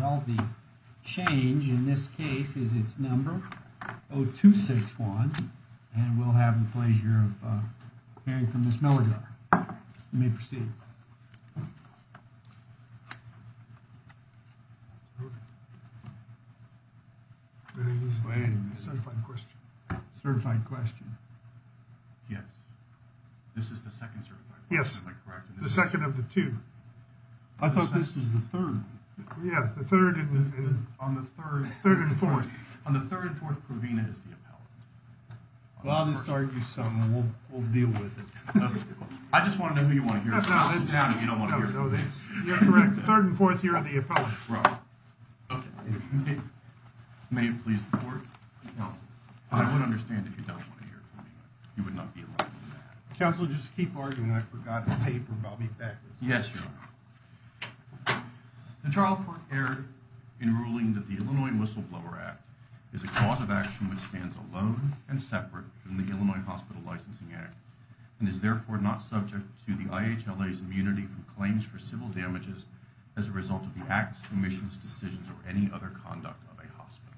Well the change in this case is it's number 0261 and we'll have the pleasure of hearing from Ms. Mellegar. You may proceed. Certified question. Yes, this is the 2nd certified. Yes, the 2nd of the 2. I thought this is the 3rd. Yes, the 3rd on the 3rd 3rd and 4th on the 3rd and 4th Provena is the appellate. Well, I'll just argue something and we'll deal with it. I just want to know who you want to hear from. You're correct. 3rd and 4th here on the appellate. May it please the court. I would understand if you don't want to hear it from me. You would not be allowed to do that. Counsel, just keep arguing. I forgot the paper. I'll be back. Yes, Your Honor. The trial court erred in ruling that the Illinois Whistleblower Act is a cause of action which stands alone and separate from the Illinois Hospital Licensing Act and is therefore not subject to the IHLA's immunity from claims for civil damages as a result of the acts, commissions, decisions, or any other conduct of a hospital.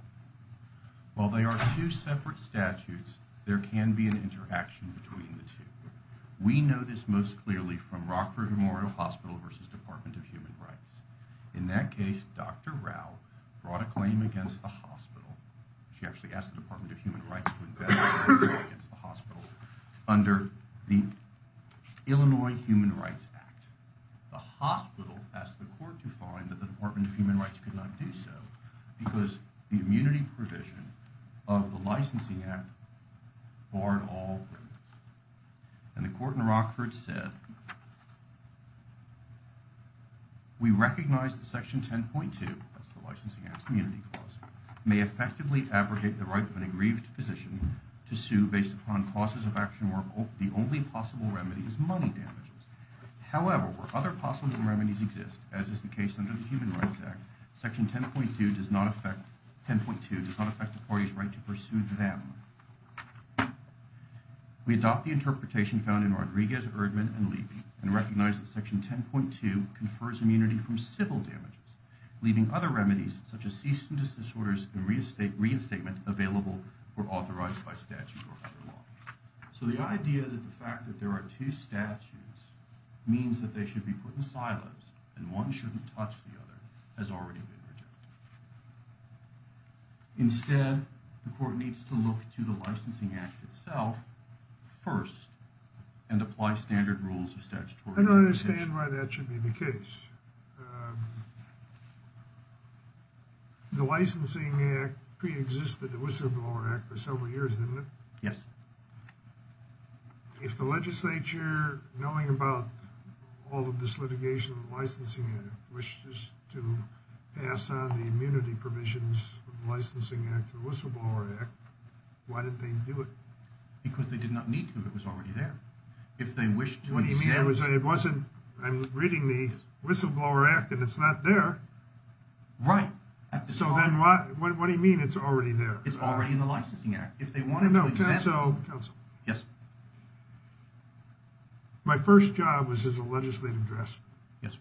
While they are two separate statutes, there can be an interaction between the two. We know this most clearly from Rockford Memorial Hospital v. Department of Human Rights. In that case, Dr. Rao brought a claim against the hospital. She actually asked the Department of Human Rights to invest against the hospital under the Illinois Human Rights Act. The hospital asked the court to find that the Department of Human Rights could not do so because the immunity provision of the licensing act barred all limits. And the court in Rockford said, We recognize that Section 10.2, that's the licensing act's immunity clause, may effectively abrogate the right of an aggrieved physician to sue based upon causes of action where the only possible remedy is money damages. However, where other possible remedies exist, as is the case under the Human Rights Act, Section 10.2 does not affect the parties' right to pursue them. We adopt the interpretation found in Rodriguez, Erdman, and Levy and recognize that Section 10.2 confers immunity from civil damages, leaving other remedies such as cease and desist orders and reinstatement available or authorized by statute or other law. So the idea that the fact that there are two statutes means that they should be put in silence and one shouldn't touch the other has already been rejected. Instead, the court needs to look to the licensing act itself first and apply standard rules of statutory jurisdiction. I don't understand why that should be the case. The licensing act pre-existed the Whistleblower Act for several years, didn't it? Yes. If the legislature, knowing about all of this litigation of the licensing act, wishes to pass on the immunity permissions of the licensing act to the Whistleblower Act, why didn't they do it? Because they did not need to. It was already there. What do you mean? I'm reading the Whistleblower Act and it's not there. Right. So then what do you mean it's already there? It's already in the licensing act. No, counsel. Yes. My first job was as a legislative draftsman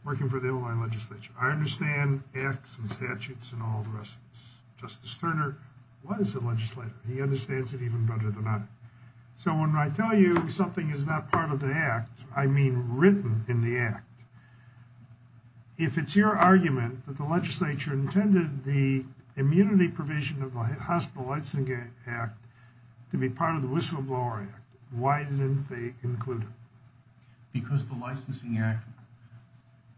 working for the Illinois legislature. I understand acts and statutes and all the rest of this. Justice Turner was a legislator. He understands it even better than I do. So when I tell you something is not part of the act, I mean written in the act, if it's your argument that the legislature intended the immunity provision of the Hospital Licensing Act to be part of the Whistleblower Act, why didn't they include it? Because the licensing act,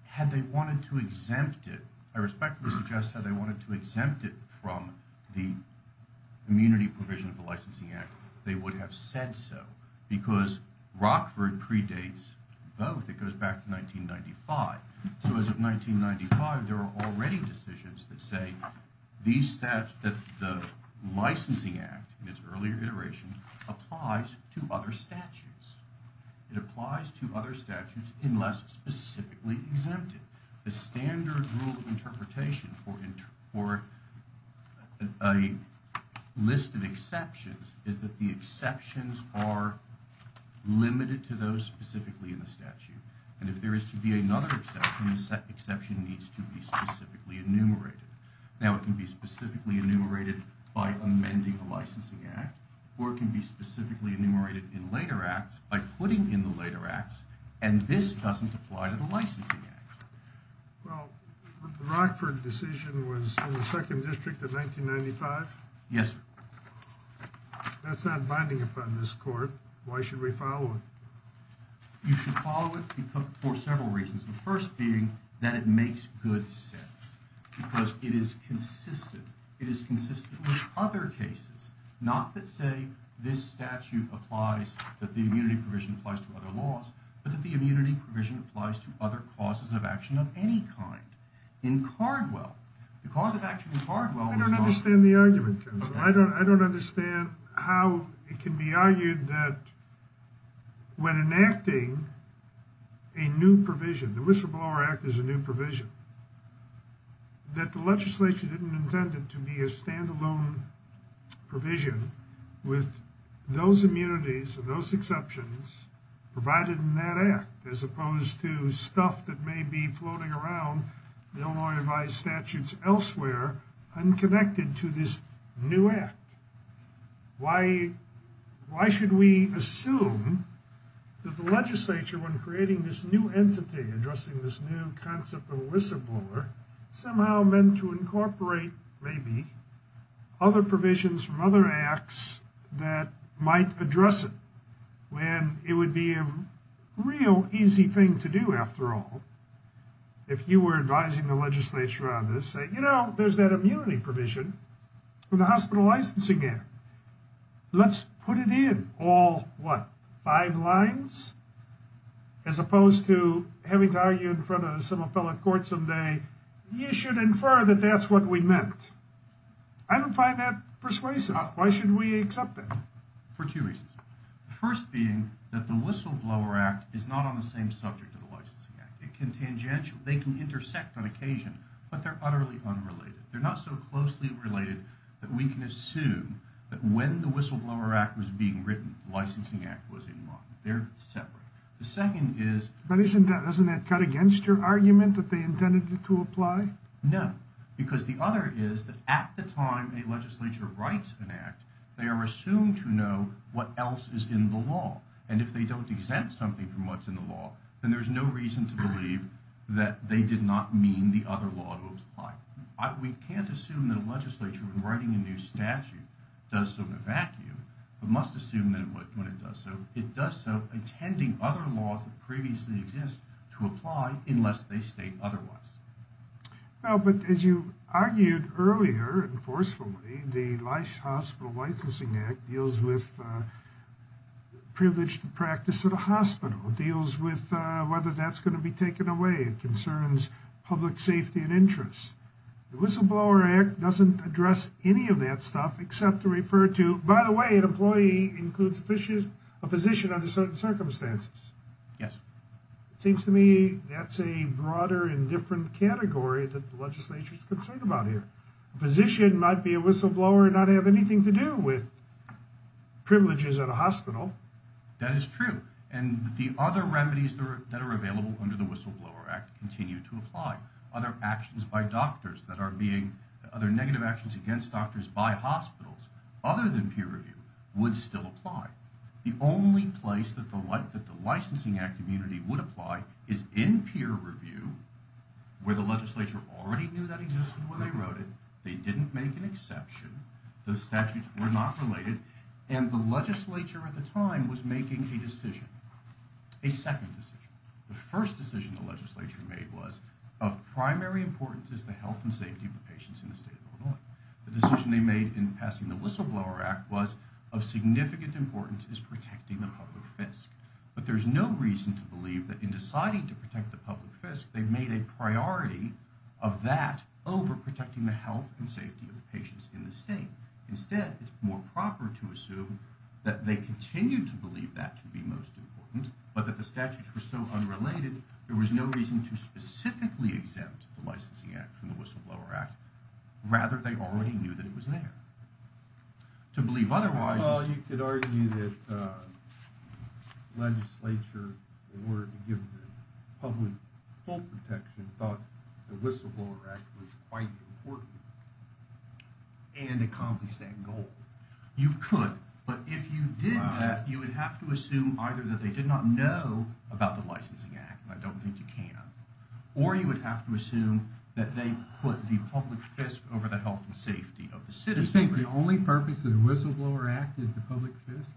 had they wanted to exempt it, I respectfully suggest had they wanted to exempt it from the immunity provision of the licensing act, they would have said so because Rockford predates both. It goes back to 1995. So as of 1995, there are already decisions that say the licensing act in its earlier iteration applies to other statutes. It applies to other statutes unless specifically exempted. The standard rule of interpretation for a list of exceptions is that the exceptions are limited to those specifically in the statute. And if there is to be another exception, the exception needs to be specifically enumerated. Now it can be specifically enumerated by amending the licensing act, or it can be specifically enumerated in later acts by putting in the later acts, and this doesn't apply to the licensing act. Well, the Rockford decision was in the second district in 1995? Yes, sir. That's not binding upon this court. Why should we follow it? You should follow it for several reasons. The first being that it makes good sense because it is consistent. It is consistent with other cases. Not that, say, this statute applies, that the immunity provision applies to other laws, but that the immunity provision applies to other causes of action of any kind. In Cardwell, the cause of action in Cardwell was not... I don't understand the argument. I don't understand how it can be argued that when enacting a new provision, the Whistleblower Act is a new provision, that the legislature didn't intend it to be a standalone provision with those immunities and those exceptions provided in that act, as opposed to stuff that may be floating around, Illinois-advised statutes elsewhere, unconnected to this new act. Why should we assume that the legislature, when creating this new entity, addressing this new concept of a whistleblower, somehow meant to incorporate, maybe, other provisions from other acts that might address it, when it would be a real easy thing to do, after all, if you were advising the legislature on this, say, you know, there's that immunity provision for the hospital licensing act. Let's put it in all, what, five lines? As opposed to having to argue in front of some appellate court someday, you should infer that that's what we meant. I don't find that persuasive. Why should we accept it? For two reasons. The first being that the Whistleblower Act is not on the same subject as the licensing act. It can tangential, they can intersect on occasion, but they're utterly unrelated. They're not so closely related that we can assume that when the Whistleblower Act was being written, the licensing act was in line. They're separate. The second is... But isn't that cut against your argument that they intended to apply? No, because the other is that at the time a legislature writes an act, they are assumed to know what else is in the law. And if they don't exempt something from what's in the law, then there's no reason to believe that they did not mean the other law to apply. We can't assume that a legislature, when writing a new statute, does so in a vacuum, but must assume that it would when it does so. It does so intending other laws that previously exist to apply unless they state otherwise. Well, but as you argued earlier, and forcefully, the Life Hospital Licensing Act deals with privileged practice at a hospital. It deals with whether that's going to be taken away. It concerns public safety and interests. The Whistleblower Act doesn't address any of that stuff except to refer to, by the way, an employee includes a physician under certain circumstances. Yes. It seems to me that's a broader and different category that the legislature is concerned about here. A physician might be a whistleblower and not have anything to do with privileges at a hospital. That is true. And the other remedies that are available under the Whistleblower Act continue to apply. Other actions by doctors that are being... would still apply. The only place that the licensing act immunity would apply is in peer review, where the legislature already knew that existed when they wrote it. They didn't make an exception. The statutes were not related. And the legislature at the time was making a decision, a second decision. The first decision the legislature made was of primary importance is the health and safety of the patients in the state of Illinois. The decision they made in passing the Whistleblower Act was of significant importance is protecting the public fisc. But there's no reason to believe that in deciding to protect the public fisc, they made a priority of that over protecting the health and safety of the patients in the state. Instead, it's more proper to assume that they continue to believe that to be most important, but that the statutes were so unrelated, there was no reason to specifically exempt the licensing act from the Whistleblower Act. Rather, they already knew that it was there. To believe otherwise is... Well, you could argue that the legislature, in order to give the public full protection, thought the Whistleblower Act was quite important and accomplished that goal. You could, but if you didn't, you would have to assume either that they did not know about the licensing act, and I don't think you can, or you would have to assume that they put the public fisc over the health and safety of the citizens. You think the only purpose of the Whistleblower Act is the public fisc?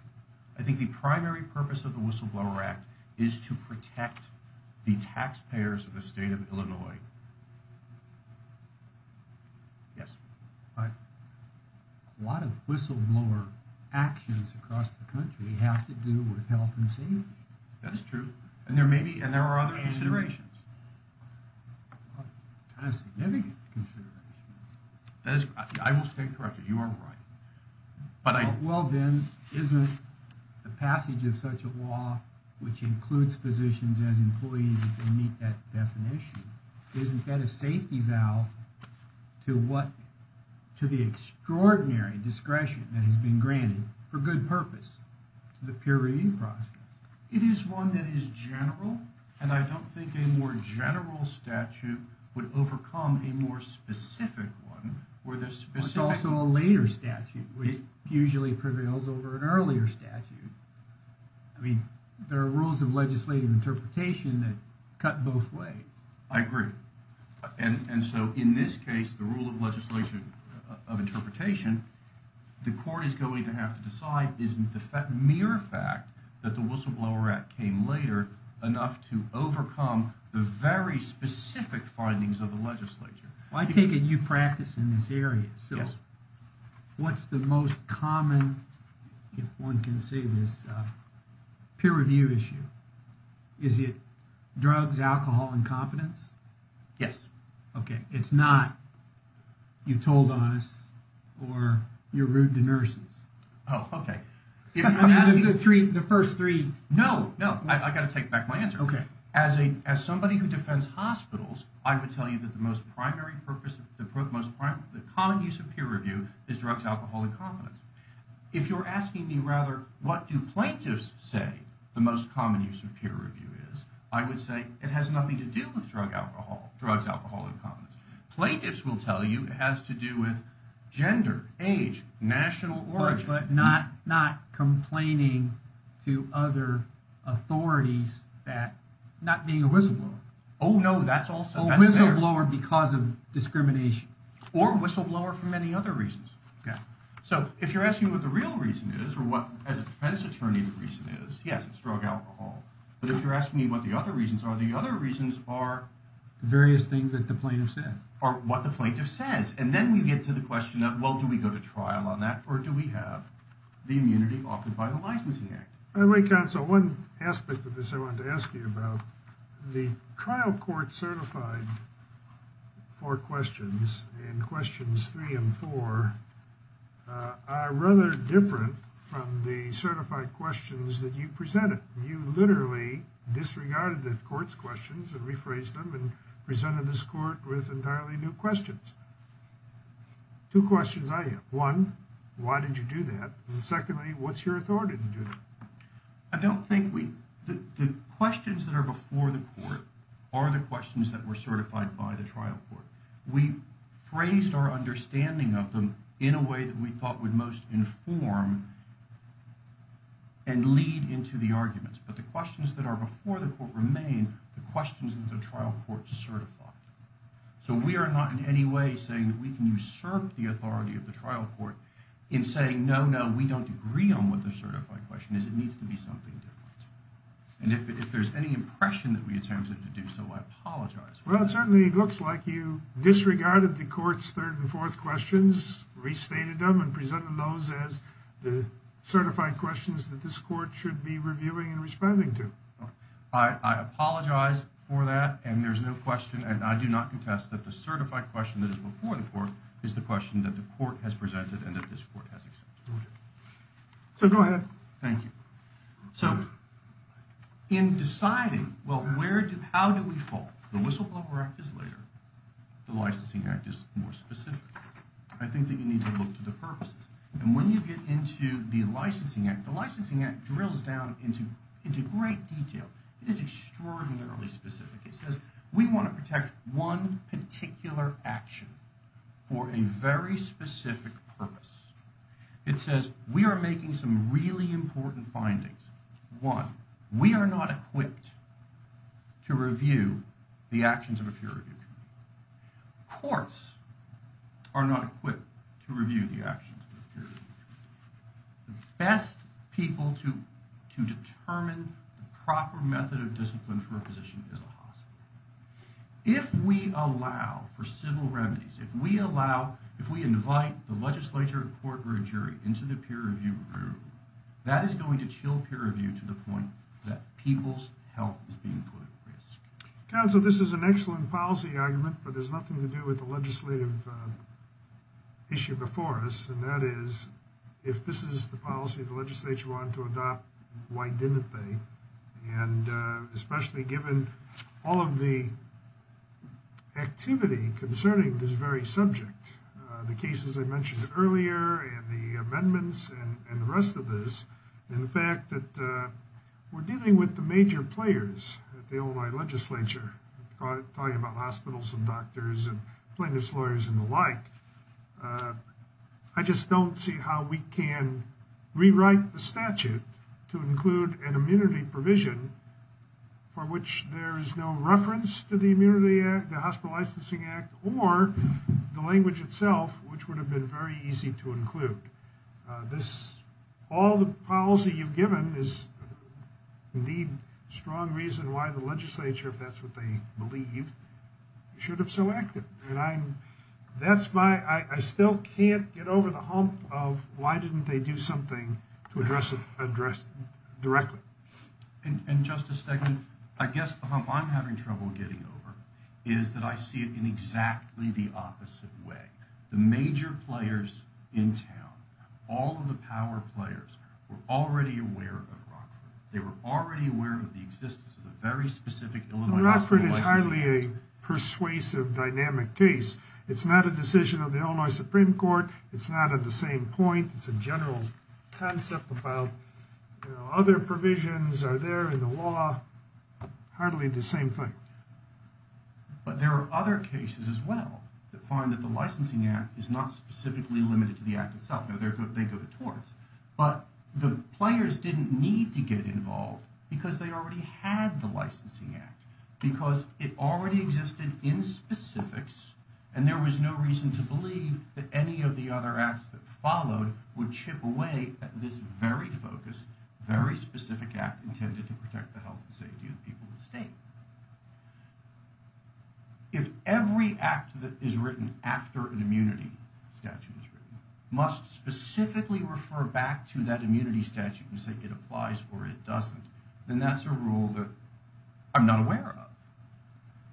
I think the primary purpose of the Whistleblower Act is to protect the taxpayers of the state of Illinois. Yes. But a lot of whistleblower actions across the country have to do with health and safety. That's true. And there are other considerations. Significant considerations. I will stay corrected. You are right. Well then, isn't the passage of such a law, which includes physicians as employees if they meet that definition, isn't that a safety valve to the extraordinary discretion that has been granted for good purpose to the peer review process? It is one that is general, and I don't think a more general statute would overcome a more specific one. It's also a later statute, which usually prevails over an earlier statute. I mean, there are rules of legislative interpretation that cut both ways. I agree. And so in this case, the rule of legislation of interpretation, the court is going to have to decide is the mere fact that the Whistleblower Act came later enough to overcome the very specific findings of the legislature. Well, I take it you practice in this area. Yes. So what's the most common, if one can say this, peer review issue? Is it drugs, alcohol, incompetence? Yes. Okay. It's not you told on us or you're rude to nurses. Oh, okay. The first three. No, no. I've got to take back my answer. Okay. As somebody who defends hospitals, I would tell you that the most primary purpose, the most common use of peer review is drugs, alcohol, and competence. If you're asking me, rather, what do plaintiffs say the most common use of peer review is, I would say it has nothing to do with drugs, alcohol, and competence. Plaintiffs will tell you it has to do with gender, age, national origin. But not complaining to other authorities that not being a whistleblower. Oh, no. That's also. A whistleblower because of discrimination. Or a whistleblower for many other reasons. Yeah. So if you're asking what the real reason is or what, as a defense attorney, the reason is, yes, it's drug alcohol. But if you're asking me what the other reasons are, the other reasons are. Various things that the plaintiff says. Are what the plaintiff says. And then we get to the question of, well, do we go to trial on that or do we have the immunity offered by the licensing act? By the way, counsel, one aspect of this I wanted to ask you about. The trial court certified for questions in questions three and four are rather different from the certified questions that you presented. You literally disregarded the court's questions and rephrased them and presented this court with entirely new questions. Two questions I have. One, why did you do that? And secondly, what's your authority to do that? I don't think we the questions that are before the court are the questions that were certified by the trial court. We phrased our understanding of them in a way that we thought would most inform and lead into the arguments. But the questions that are before the court remain the questions that the trial court certified. So we are not in any way saying that we can usurp the authority of the trial court in saying, no, no, we don't agree on what the certified question is. It needs to be something different. And if there's any impression that we attempt to do so, I apologize. Well, it certainly looks like you disregarded the court's third and fourth questions, restated them and presented those as the certified questions that this court should be reviewing and responding to. I apologize for that. And there's no question. And I do not contest that the certified question that is before the court is the question that the court has presented and that this court has accepted. So go ahead. Thank you. So in deciding, well, how do we fall? The Whistleblower Act is later. The Licensing Act is more specific. I think that you need to look to the purposes. And when you get into the Licensing Act, the Licensing Act drills down into great detail. It is extraordinarily specific. It says we want to protect one particular action for a very specific purpose. It says we are making some really important findings. One, we are not equipped to review the actions of a peer review committee. Courts are not equipped to review the actions of a peer review committee. The best people to determine the proper method of discipline for a position is a hospital. If we allow for civil remedies, if we allow, if we invite the legislature, court, or a jury into the peer review room, that is going to chill peer review to the point that people's health is being put at risk. Counsel, this is an excellent policy argument, but it has nothing to do with the legislative issue before us. And that is, if this is the policy the legislature wanted to adopt, why didn't they? And especially given all of the activity concerning this very subject, the cases I mentioned earlier, and the amendments, and the rest of this. And the fact that we're dealing with the major players at the Illinois legislature, talking about hospitals and doctors and plaintiffs' lawyers and the like. I just don't see how we can rewrite the statute to include an immunity provision for which there is no reference to the Immunity Act, the Hospital Licensing Act, or the language itself, which would have been very easy to include. This, all the policy you've given is the strong reason why the legislature, if that's what they believe, should have selected. I still can't get over the hump of why didn't they do something to address it directly. And Justice Stegman, I guess the hump I'm having trouble getting over is that I see it in exactly the opposite way. The major players in town, all of the power players, were already aware of Rockford. They were already aware of the existence of a very specific Illinois hospital license. It's hardly a persuasive, dynamic case. It's not a decision of the Illinois Supreme Court. It's not at the same point. It's a general concept about, you know, other provisions are there in the law. Hardly the same thing. But there are other cases as well that find that the licensing act is not specifically limited to the act itself. They go to courts. But the players didn't need to get involved because they already had the licensing act. Because it already existed in specifics, and there was no reason to believe that any of the other acts that followed would chip away at this very focused, very specific act intended to protect the health and safety of the people of the state. If every act that is written after an immunity statute is written must specifically refer back to that immunity statute and say it applies or it doesn't, then that's a rule that I'm not aware of.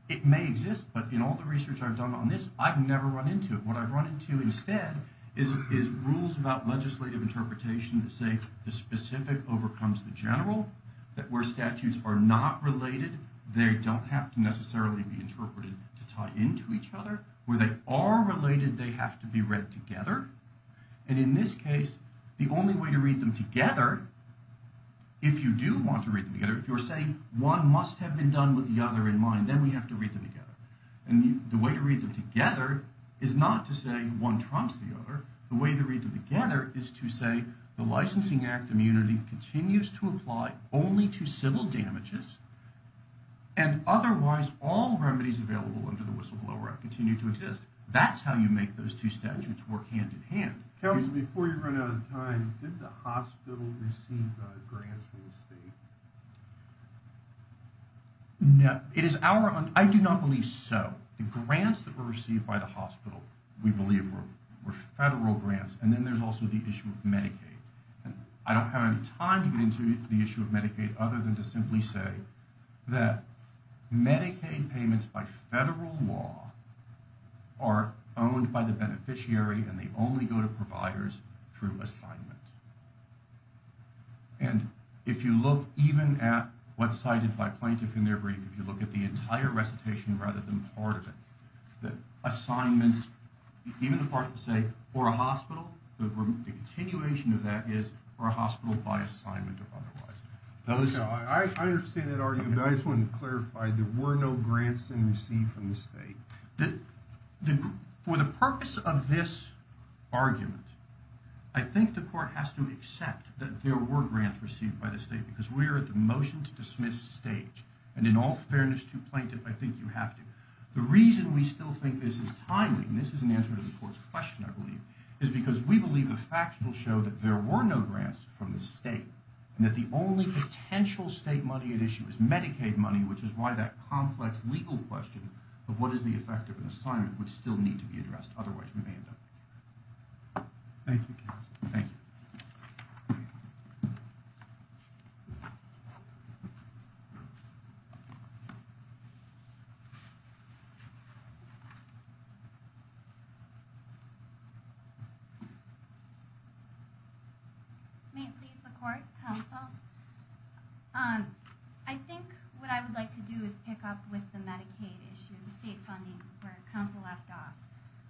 It may exist, but in all the research I've done on this, I've never run into it. What I've run into instead is rules about legislative interpretation that say the specific overcomes the general. That where statutes are not related, they don't have to necessarily be interpreted to tie into each other. Where they are related, they have to be read together. And in this case, the only way to read them together, if you do want to read them together, if you're saying one must have been done with the other in mind, then we have to read them together. And the way to read them together is not to say one trumps the other. The way to read them together is to say the licensing act immunity continues to apply only to civil damages, and otherwise all remedies available under the whistleblower act continue to exist. That's how you make those two statutes work hand-in-hand. Before you run out of time, did the hospital receive grants from the state? No. I do not believe so. The grants that were received by the hospital, we believe, were federal grants. And then there's also the issue of Medicaid. I don't have any time to get into the issue of Medicaid other than to simply say that Medicaid payments by federal law are owned by the beneficiary and they only go to providers through assignment. And if you look even at what's cited by plaintiff in their brief, if you look at the entire recitation rather than part of it, the assignments, even the part that say for a hospital, the continuation of that is for a hospital by assignment or otherwise. I understand that argument, but I just wanted to clarify there were no grants received from the state. For the purpose of this argument, I think the court has to accept that there were grants received by the state because we are at the motion to dismiss stage. And in all fairness to plaintiff, I think you have to. The reason we still think this is timely, and this is an answer to the court's question, I believe, is because we believe the facts will show that there were no grants from the state and that the only potential state money at issue is Medicaid money, which is why that complex legal question of what is the effect of an assignment would still need to be addressed. Otherwise, we may end up. Thank you. Thank you. May it please the court, counsel. I think what I would like to do is pick up with the Medicaid issue, the state funding where counsel left off.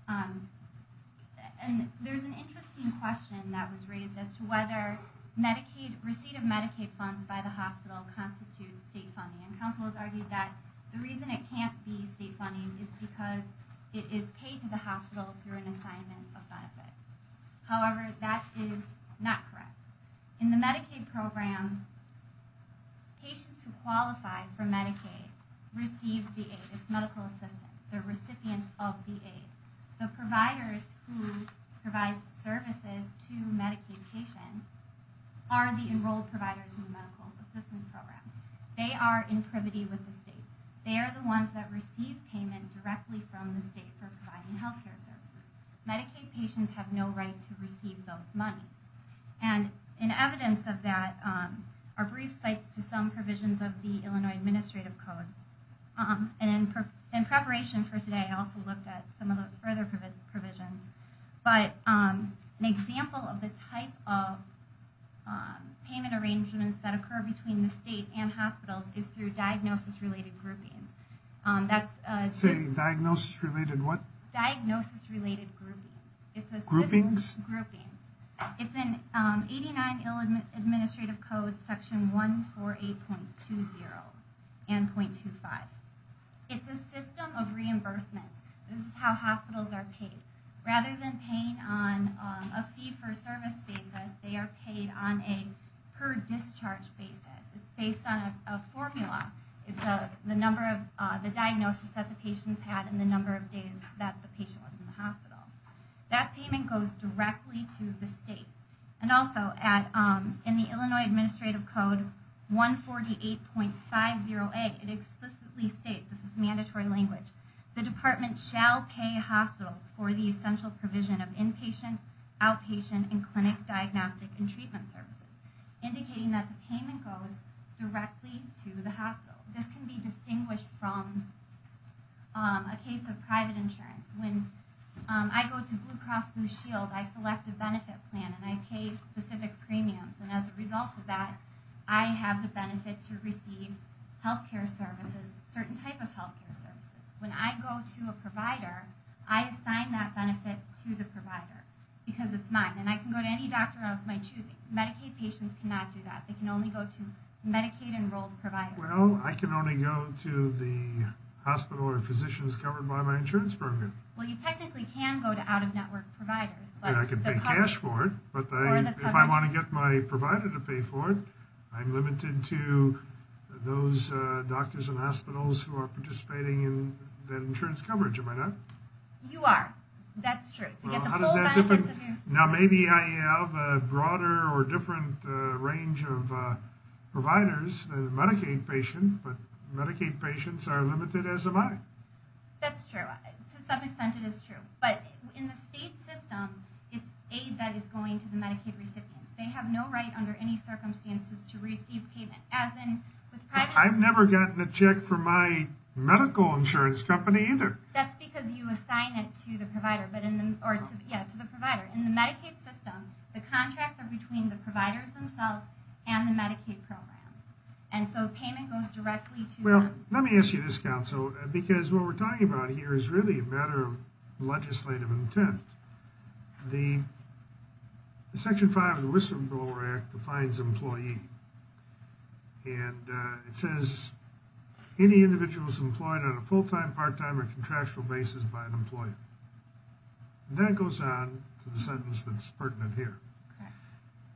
And there's an interesting question that was raised as to whether Medicaid, receipt of Medicaid funds by the hospital constitutes state funding. And counsel has argued that the reason it can't be state funding is because it is paid to the hospital through an assignment of benefits. However, that is not correct. In the Medicaid program, patients who qualify for Medicaid receive the aid. It's medical assistance. They're recipients of the aid. The providers who provide services to Medicaid patients are the enrolled providers in the medical assistance program. They are in privity with the state. They are the ones that receive payment directly from the state for providing health care services. Medicaid patients have no right to receive those monies. And in evidence of that are brief sites to some provisions of the Illinois Administrative Code and in preparation for today I also looked at some of those further provisions. But an example of the type of payment arrangements that occur between the state and hospitals is through diagnosis-related groupings. Say diagnosis-related what? Diagnosis-related groupings. Groupings? It's in 89 Illinois Administrative Code Section 148.20 and .25. It's a system of reimbursement. This is how hospitals are paid. Rather than paying on a fee-for-service basis, they are paid on a per-discharge basis. It's based on a formula. It's the number of the diagnosis that the patient's had and the number of days that the patient was in the hospital. That payment goes directly to the state. And also in the Illinois Administrative Code 148.50a, it explicitly states, this is mandatory language, the department shall pay hospitals for the essential provision of inpatient, outpatient, and clinic diagnostic and treatment services, indicating that the payment goes directly to the hospital. This can be distinguished from a case of private insurance. When I go to Blue Cross Blue Shield, I select a benefit plan, and I pay specific premiums. And as a result of that, I have the benefit to receive health care services, certain type of health care services. When I go to a provider, I assign that benefit to the provider because it's mine. And I can go to any doctor of my choosing. Medicaid patients cannot do that. They can only go to Medicaid-enrolled providers. Well, I can only go to the hospital or physicians covered by my insurance program. Well, you technically can go to out-of-network providers. I can pay cash for it, but if I want to get my provider to pay for it, I'm limited to those doctors and hospitals who are participating in that insurance coverage. Am I not? You are. That's true. Well, how does that differ? Now, maybe I have a broader or different range of providers than a Medicaid patient, but Medicaid patients are limited as am I. That's true. To some extent, it is true. But in the state system, it's aid that is going to the Medicaid recipients. They have no right under any circumstances to receive payment. I've never gotten a check from my medical insurance company either. That's because you assign it to the provider. Yeah, to the provider. In the Medicaid system, the contracts are between the providers themselves and the Medicaid program. And so payment goes directly to them. Well, let me ask you this, Counsel, because what we're talking about here is really a matter of legislative intent. Section 5 of the Whistleblower Act defines employee. And it says any individuals employed on a full-time, part-time, or contractual basis by an employee. And then it goes on to the sentence that's pertinent here.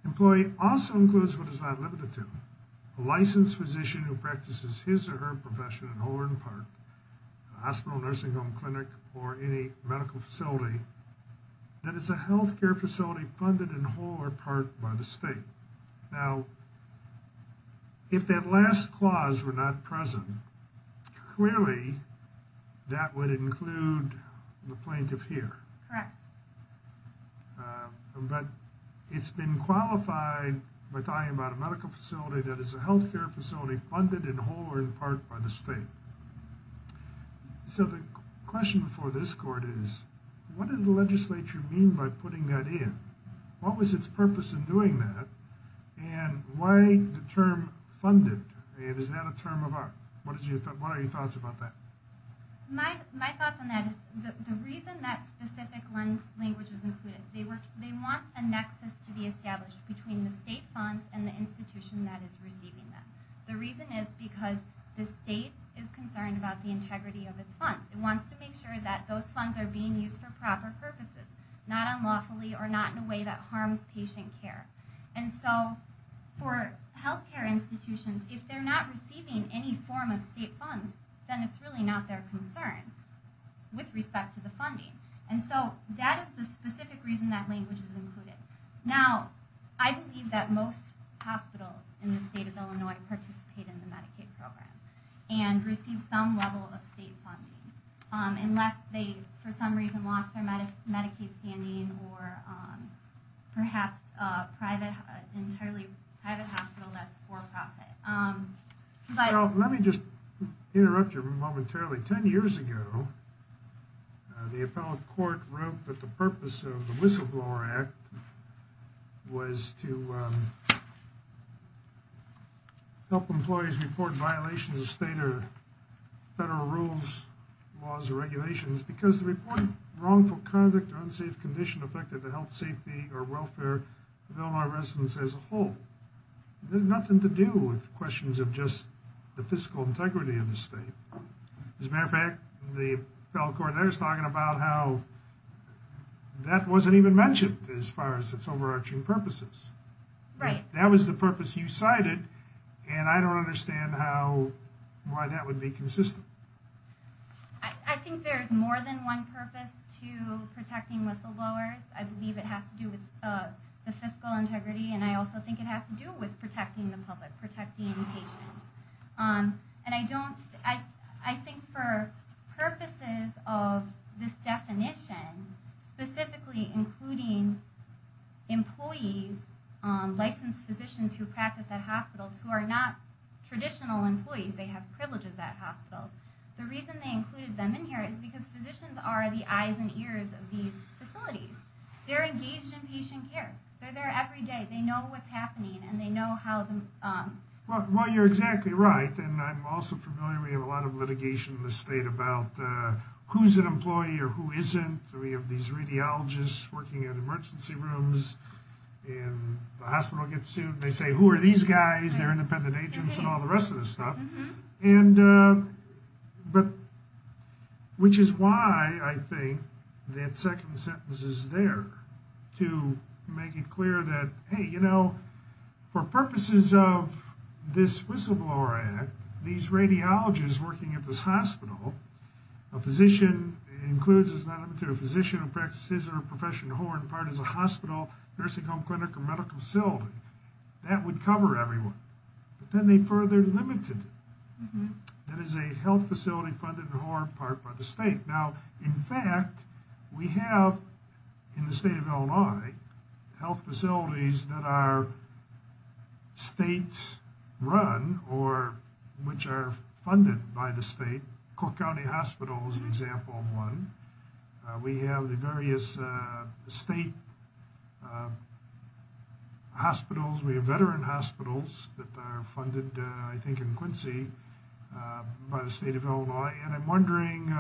Employee also includes what is not limited to a licensed physician who practices his or her profession in whole or in part, a hospital, nursing home, clinic, or any medical facility that is a health care facility funded in whole or part by the state. Now, if that last clause were not present, clearly that would include the plaintiff here. Correct. But it's been qualified by talking about a medical facility that is a health care facility funded in whole or in part by the state. So the question for this court is, what did the legislature mean by putting that in? What was its purpose in doing that? And why the term funded? Is that a term of art? What are your thoughts about that? My thoughts on that is the reason that specific language is included. They want a nexus to be established between the state funds and the institution that is receiving them. The reason is because the state is concerned about the integrity of its funds. It wants to make sure that those funds are being used for proper purposes, not unlawfully or not in a way that harms patient care. And so for health care institutions, if they're not receiving any form of state funds, then it's really not their concern with respect to the funding. And so that is the specific reason that language was included. Now, I believe that most hospitals in the state of Illinois participate in the Medicaid program and receive some level of state funding unless they, for some reason, lost their Medicaid standing or perhaps an entirely private hospital that's for profit. Well, let me just interrupt you momentarily. Ten years ago, the appellate court wrote that the purpose of the Whistleblower Act was to help employees report violations of state or federal rules, laws, or regulations because the report wrongful conduct or unsafe condition affected the health, safety, or welfare of Illinois residents as a whole. It had nothing to do with questions of just the fiscal integrity of the state. As a matter of fact, the appellate court there is talking about how that wasn't even mentioned as far as its overarching purposes. That was the purpose you cited, and I don't understand why that would be consistent. I think there is more than one purpose to protecting whistleblowers. I believe it has to do with the fiscal integrity, and I also think it has to do with protecting the public, protecting patients. I think for purposes of this definition, specifically including employees, licensed physicians who practice at hospitals who are not traditional employees. They have privileges at hospitals. The reason they included them in here is because physicians are the eyes and ears of these facilities. They're engaged in patient care. They're there every day. They know what's happening, and they know how the... Well, you're exactly right, and I'm also familiar. We have a lot of litigation in this state about who's an employee or who isn't. We have these radiologists working in emergency rooms, and the hospital gets sued. They say, who are these guys? They're independent agents and all the rest of this stuff. Which is why I think that second sentence is there to make it clear that, hey, you know, for purposes of this Whistleblower Act, these radiologists working at this hospital, a physician includes as an item to a physician who practices or is a professional whore in part as a hospital, nursing home, clinic, or medical facility. That would cover everyone, but then they further limited it. That is a health facility funded in part by the state. Now, in fact, we have, in the state of Illinois, health facilities that are state-run or which are funded by the state. Cook County Hospital is an example of one. We have the various state hospitals. We have veteran hospitals that are funded, I think, in Quincy by the state of Illinois. And I'm wondering,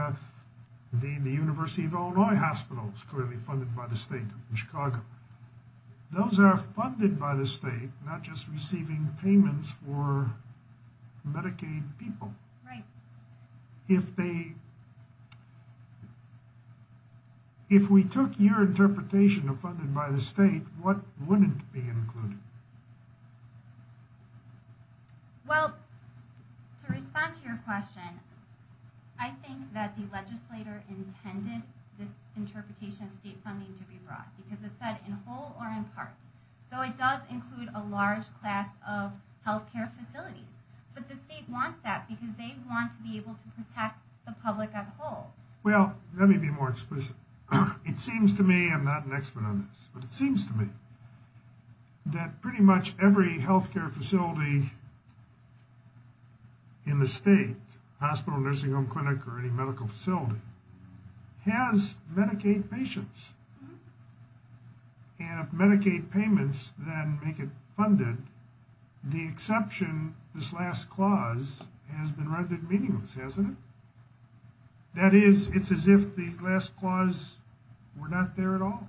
the University of Illinois Hospital is clearly funded by the state of Chicago. Those are funded by the state, not just receiving payments for Medicaid people. Right. If we took your interpretation of funded by the state, what wouldn't be included? Well, to respond to your question, I think that the legislator intended this interpretation of state funding to be broad, because it said in whole or in part. So it does include a large class of health care facilities. But the state wants that because they want to be able to protect the public as a whole. Well, let me be more explicit. It seems to me, I'm not an expert on this, but it seems to me that pretty much every health care facility in the state, hospital, nursing home, clinic, or any medical facility, has Medicaid patients. And if Medicaid payments then make it funded, the exception, this last clause, has been rendered meaningless, hasn't it? That is, it's as if the last clause were not there at all.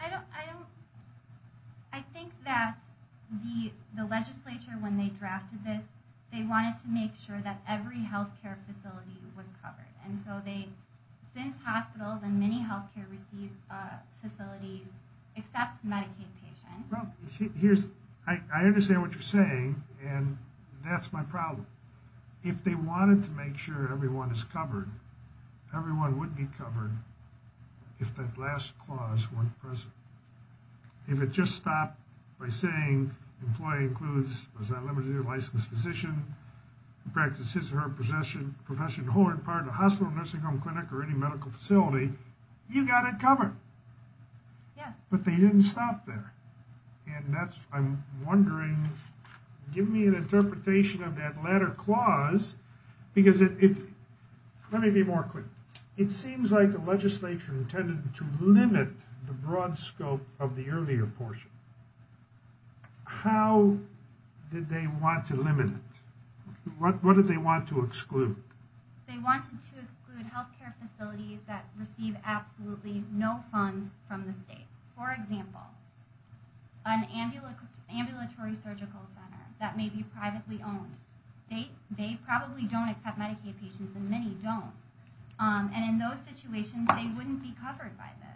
I don't, I don't, I think that the legislature, when they drafted this, they wanted to make sure that every health care facility was covered. And so they, since hospitals and many health care receive facilities except Medicaid patients. Well, here's, I understand what you're saying. And that's my problem. If they wanted to make sure everyone is covered, everyone would be covered if that last clause weren't present. If it just stopped by saying, employee includes, was not limited to a licensed physician, practice his or her possession, profession, whole or in part, a hospital, nursing home, clinic, or any medical facility, you got it covered. Yes. But they didn't stop there. And that's, I'm wondering, give me an interpretation of that latter clause, because it, let me be more clear. It seems like the legislature intended to limit the broad scope of the earlier portion. How did they want to limit it? What did they want to exclude? They wanted to exclude health care facilities that receive absolutely no funds from the state. For example, an ambulatory surgical center that may be privately owned. They probably don't accept Medicaid patients, and many don't. And in those situations, they wouldn't be covered by this.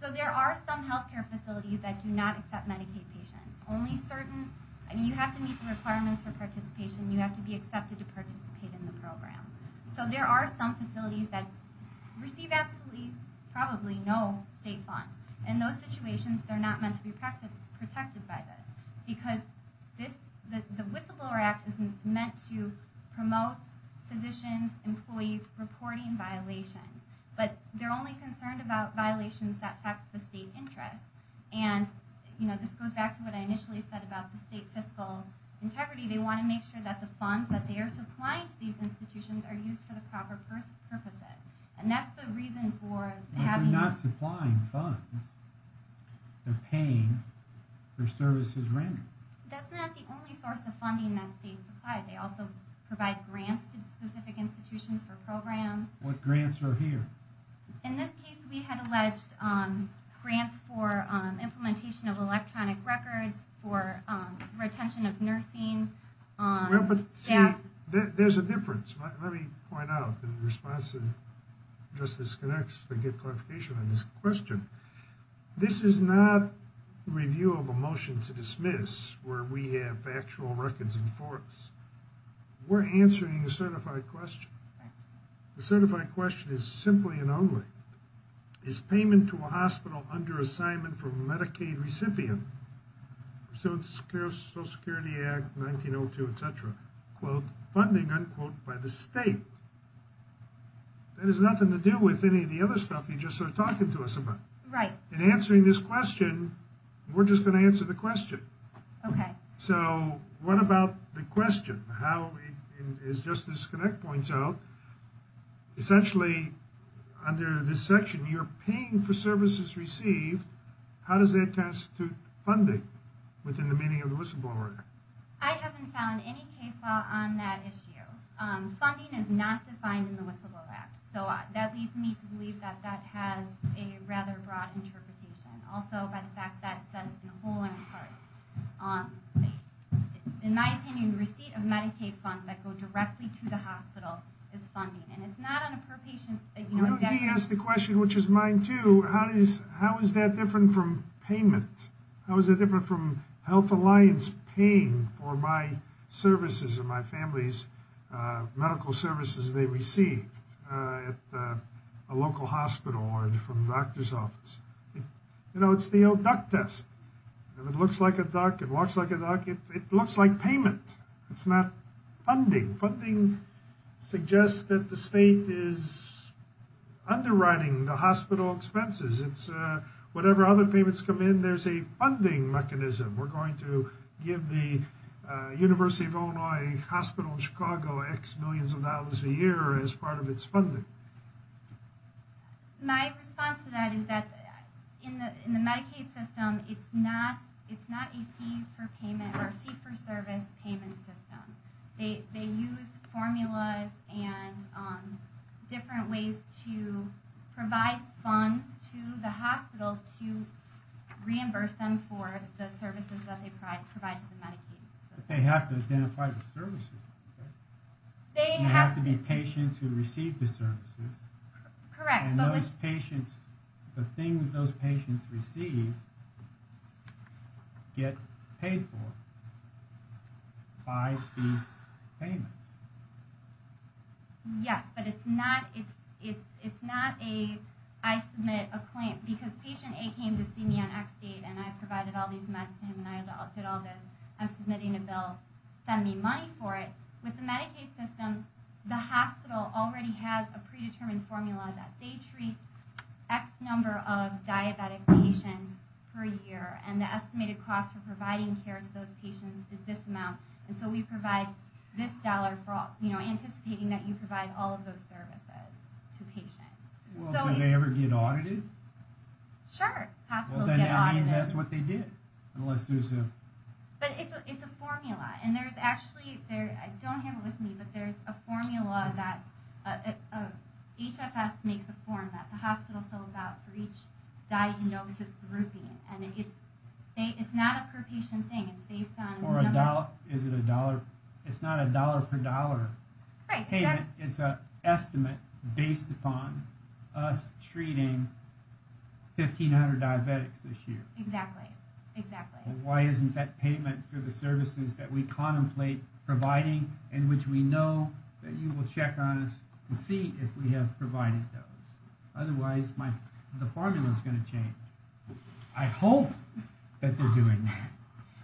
So there are some health care facilities that do not accept Medicaid patients. Only certain, I mean, you have to meet the requirements for participation. You have to be accepted to participate in the program. So there are some facilities that receive absolutely, probably no state funds. In those situations, they're not meant to be protected by this. Because the Whistleblower Act is meant to promote physicians, employees reporting violations. But they're only concerned about violations that affect the state interest. And, you know, this goes back to what I initially said about the state fiscal integrity. They want to make sure that the funds that they are supplying to these institutions are used for the proper purposes. And that's the reason for having... But they're not supplying funds. They're paying for services rendered. That's not the only source of funding that states provide. They also provide grants to specific institutions for programs. What grants are here? In this case, we had alleged grants for implementation of electronic records, for retention of nursing staff. There's a difference. Let me point out in response to Justice Connex to get clarification on this question. This is not review of a motion to dismiss where we have factual records in force. We're answering a certified question. The certified question is simply and only. Is payment to a hospital under assignment from Medicaid recipient, Social Security Act 1902, etc., quote, funding, unquote, by the state? That has nothing to do with any of the other stuff you just started talking to us about. In answering this question, we're just going to answer the question. So what about the question? As Justice Connex points out, essentially under this section, you're paying for services received. How does that constitute funding within the meaning of the whistleblower act? I haven't found any case law on that issue. Funding is not defined in the whistleblower act. So that leads me to believe that that has a rather broad interpretation. Also by the fact that it says in whole and in part. In my opinion, receipt of Medicaid funds that go directly to the hospital is funding. And it's not on a per patient basis. Let me ask the question, which is mine, too. How is that different from payment? How is it different from health alliance paying for my services and my family's medical services they receive at a local hospital or from doctor's office? You know, it's the old duck test. If it looks like a duck, it walks like a duck. It looks like payment. It's not funding. Funding suggests that the state is underwriting the hospital expenses. It's whatever other payments come in, there's a funding mechanism. We're going to give the University of Illinois Hospital in Chicago X millions of dollars a year as part of its funding. My response to that is that in the Medicaid system, it's not a fee for service payment system. They use formulas and different ways to provide funds to the hospital to reimburse them for the services that they provide to the Medicaid system. They have to identify the services. They have to be patients who receive the services. Correct. And those patients, the things those patients receive, get paid for by these payments. Yes, but it's not a, I submit a claim, because patient A came to see me on X date and I provided all these meds to him and I did all this. I'm submitting a bill, send me money for it. With the Medicaid system, the hospital already has a predetermined formula that they treat X number of diabetic patients per year. And the estimated cost for providing care to those patients is this amount. And so we provide this dollar for anticipating that you provide all of those services to patients. Do they ever get audited? Sure, hospitals get audited. Which means that's what they did. But it's a formula. And there's actually, I don't have it with me, but there's a formula that HFS makes a form that the hospital fills out for each diagnosis grouping. And it's not a per patient thing, it's based on numbers. It's not a dollar per dollar payment, it's an estimate based upon us treating 1,500 diabetics this year. Exactly, exactly. Why isn't that payment for the services that we contemplate providing, in which we know that you will check on us to see if we have provided those. Otherwise, the formula's going to change. I hope that they're doing that.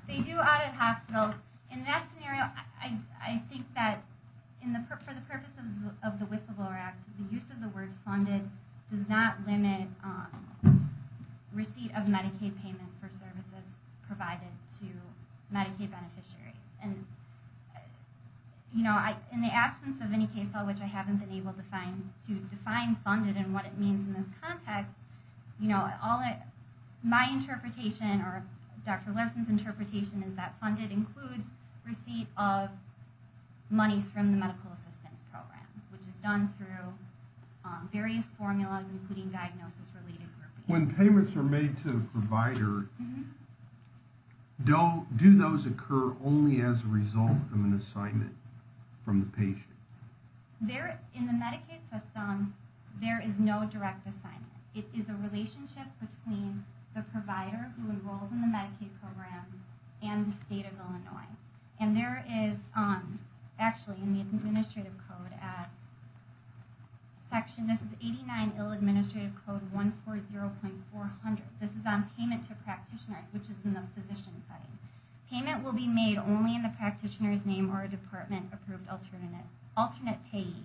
They do audit hospitals. In that scenario, I think that for the purpose of the Whistleblower Act, the use of the word funded does not limit receipt of Medicaid payment for services provided to Medicaid beneficiaries. In the absence of any case law, which I haven't been able to define funded and what it means in this context, my interpretation, or Dr. Larson's interpretation, is that funded includes receipt of monies from the medical assistance program. Which is done through various formulas, including diagnosis related groupings. When payments are made to a provider, do those occur only as a result of an assignment from the patient? In the Medicaid system, there is no direct assignment. It is a relationship between the provider who enrolls in the Medicaid program and the state of Illinois. And there is, actually, in the administrative code at section, this is 89 Ill Administrative Code 140.400. This is on payment to practitioners, which is in the physician setting. Payment will be made only in the practitioner's name or a department approved alternate payee.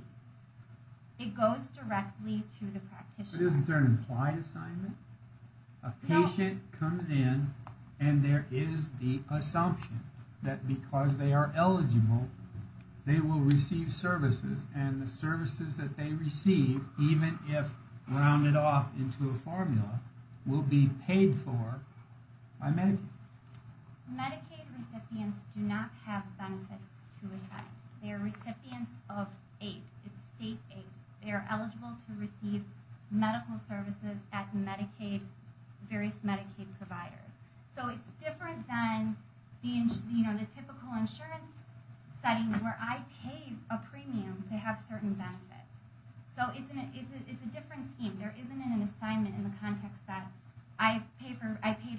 It goes directly to the practitioner. But isn't there an implied assignment? A patient comes in and there is the assumption that because they are eligible, they will receive services. And the services that they receive, even if rounded off into a formula, will be paid for by Medicaid. Medicaid recipients do not have benefits to attend. They are recipients of aid. It's state aid. They are eligible to receive medical services at various Medicaid providers. So it's different than the typical insurance setting where I pay a premium to have certain benefits. So it's a different scheme. There isn't an assignment in the context that I paid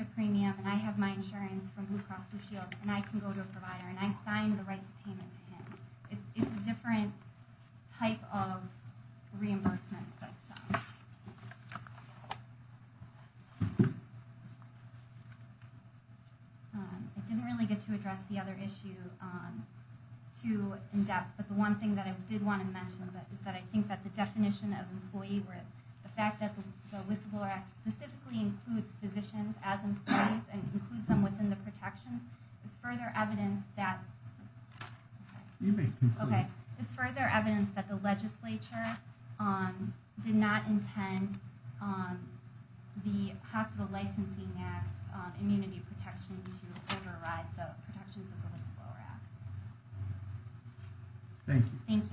a premium and I have my insurance from Blue Cross Blue Shield and I can go to a provider and I sign the right to payment to him. It's a different type of reimbursement. I didn't really get to address the other issue too in depth, but the one thing that I did want to mention is that I think that the definition of employee worth, the fact that the whistleblower act specifically includes physicians as employees and includes them within the protection, it's further evidence that the legislature did not intend the hospital licensing act immunity protection to override the protections of the whistleblower act. Thank you. Thank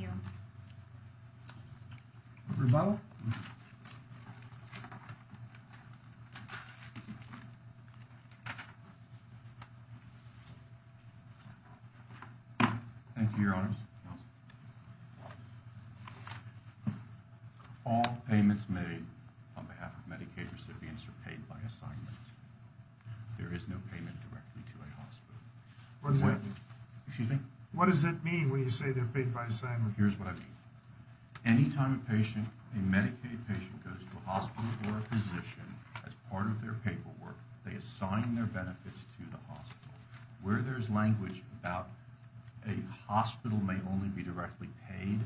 you, your honors. All payments made on behalf of Medicaid recipients are paid by assignment. There is no payment directly to a hospital. What does that mean when you say they're paid by assignment? Here's what I mean. Anytime a patient, a Medicaid patient goes to a hospital or a physician as part of their paperwork, they assign their benefits to the hospital. Where there's language about a hospital may only be directly paid,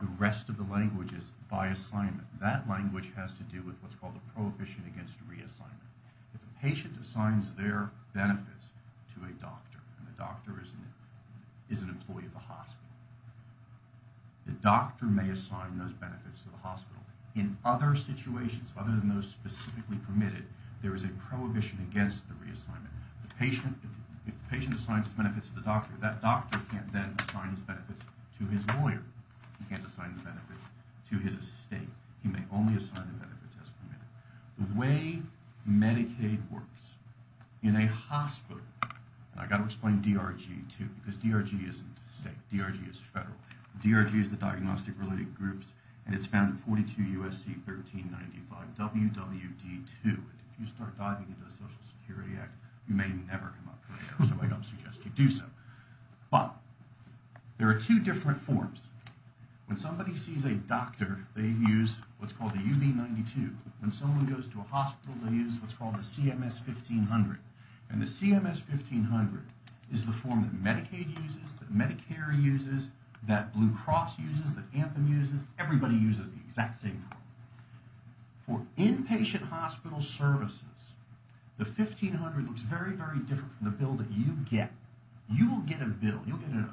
the rest of the language is by assignment. That language has to do with what's called a prohibition against reassignment. If a patient assigns their benefits to a doctor and the doctor is an employee of the hospital, the doctor may assign those benefits to the hospital. In other situations, other than those specifically permitted, there is a prohibition against the reassignment. If the patient assigns his benefits to the doctor, that doctor can't then assign his benefits to his lawyer. He can't assign the benefits to his estate. He may only assign the benefits as permitted. The way Medicaid works in a hospital, and I've got to explain DRG too because DRG isn't state. DRG is federal. DRG is the Diagnostic Related Groups, and it's found in 42 U.S.C. 1395 W.W.D. 2. If you start diving into the Social Security Act, you may never come up with it, so I don't suggest you do so. But there are two different forms. When somebody sees a doctor, they use what's called a UB-92. When someone goes to a hospital, they use what's called a CMS-1500. And the CMS-1500 is the form that Medicaid uses, that Medicare uses, that Blue Cross uses, that Anthem uses. Everybody uses the exact same form. For inpatient hospital services, the 1500 looks very, very different from the bill that you get. You will get a bill. You'll get an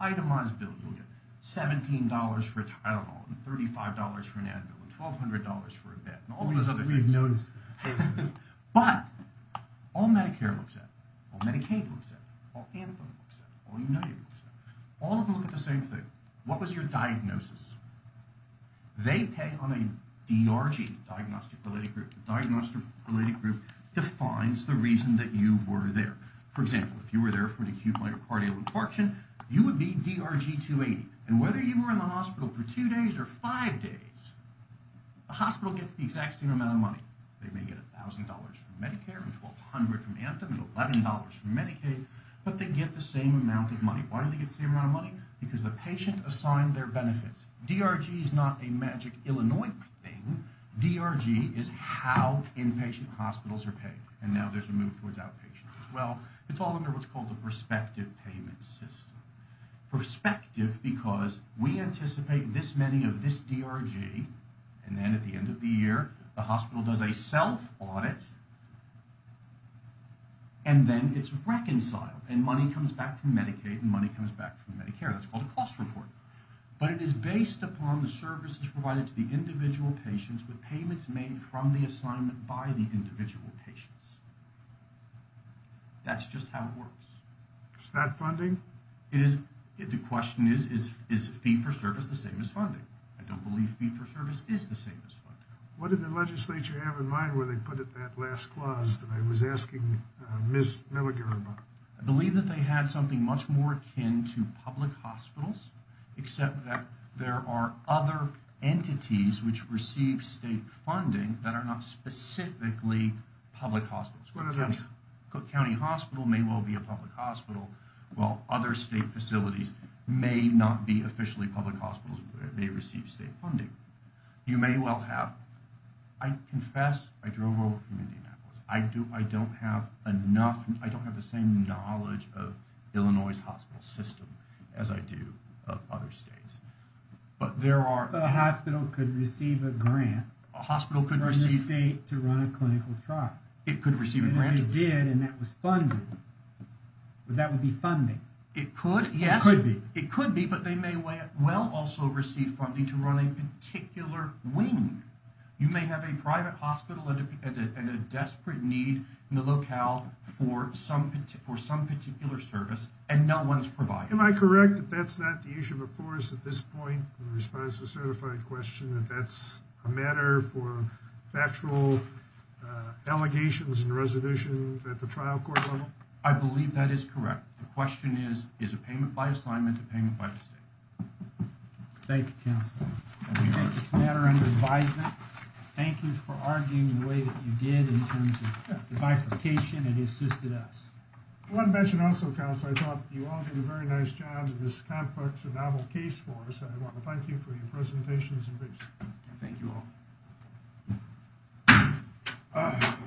itemized bill. You'll get $17 for a Tylenol and $35 for an Advil and $1,200 for a bed and all those other things. But all Medicare looks at, all Medicaid looks at, all Anthem looks at, all United looks at, all of them look at the same thing. What was your diagnosis? They pay on a DRG, Diagnostic Related Group. The Diagnostic Related Group defines the reason that you were there. For example, if you were there for an acute myocardial infarction, you would be DRG-280. And whether you were in the hospital for two days or five days, the hospital gets the exact same amount of money. They may get $1,000 from Medicare and $1,200 from Anthem and $11 from Medicaid, but they get the same amount of money. Why do they get the same amount of money? Because the patient assigned their benefits. DRG is not a magic Illinois thing. DRG is how inpatient hospitals are paid. And now there's a move towards outpatient as well. It's all under what's called a prospective payment system. Prospective because we anticipate this many of this DRG. And then at the end of the year, the hospital does a self-audit. And then it's reconciled. And money comes back from Medicaid and money comes back from Medicare. That's called a cost report. But it is based upon the services provided to the individual patients with payments made from the assignment by the individual patients. That's just how it works. Is that funding? It is. The question is, is fee-for-service the same as funding? I don't believe fee-for-service is the same as funding. What did the legislature have in mind when they put in that last clause that I was asking Ms. Milliger about? I believe that they had something much more akin to public hospitals, except that there are other entities which receive state funding that are not specifically public hospitals. What are those? Cook County Hospital may well be a public hospital. While other state facilities may not be officially public hospitals, but they receive state funding. You may well have... I confess I drove over from Indianapolis. I don't have the same knowledge of Illinois' hospital system as I do of other states. But there are... But a hospital could receive a grant from the state to run a clinical trial. It could receive a grant. It did, and that was funded. That would be funding. It could, yes. It could be. It could be, but they may well also receive funding to run a particular wing. You may have a private hospital and a desperate need in the locale for some particular service, and no one's providing it. Am I correct that that's not the issue before us at this point in response to a certified question, that that's a matter for factual allegations and resolutions at the trial court level? I believe that is correct. The question is, is a payment by assignment a payment by the state? Thank you, counsel. On this matter under advisement, thank you for arguing the way that you did in terms of the bifurcation that assisted us. I want to mention also, counsel, I thought you all did a very nice job in this complex and novel case for us, and I want to thank you for your presentations and briefs. Thank you all.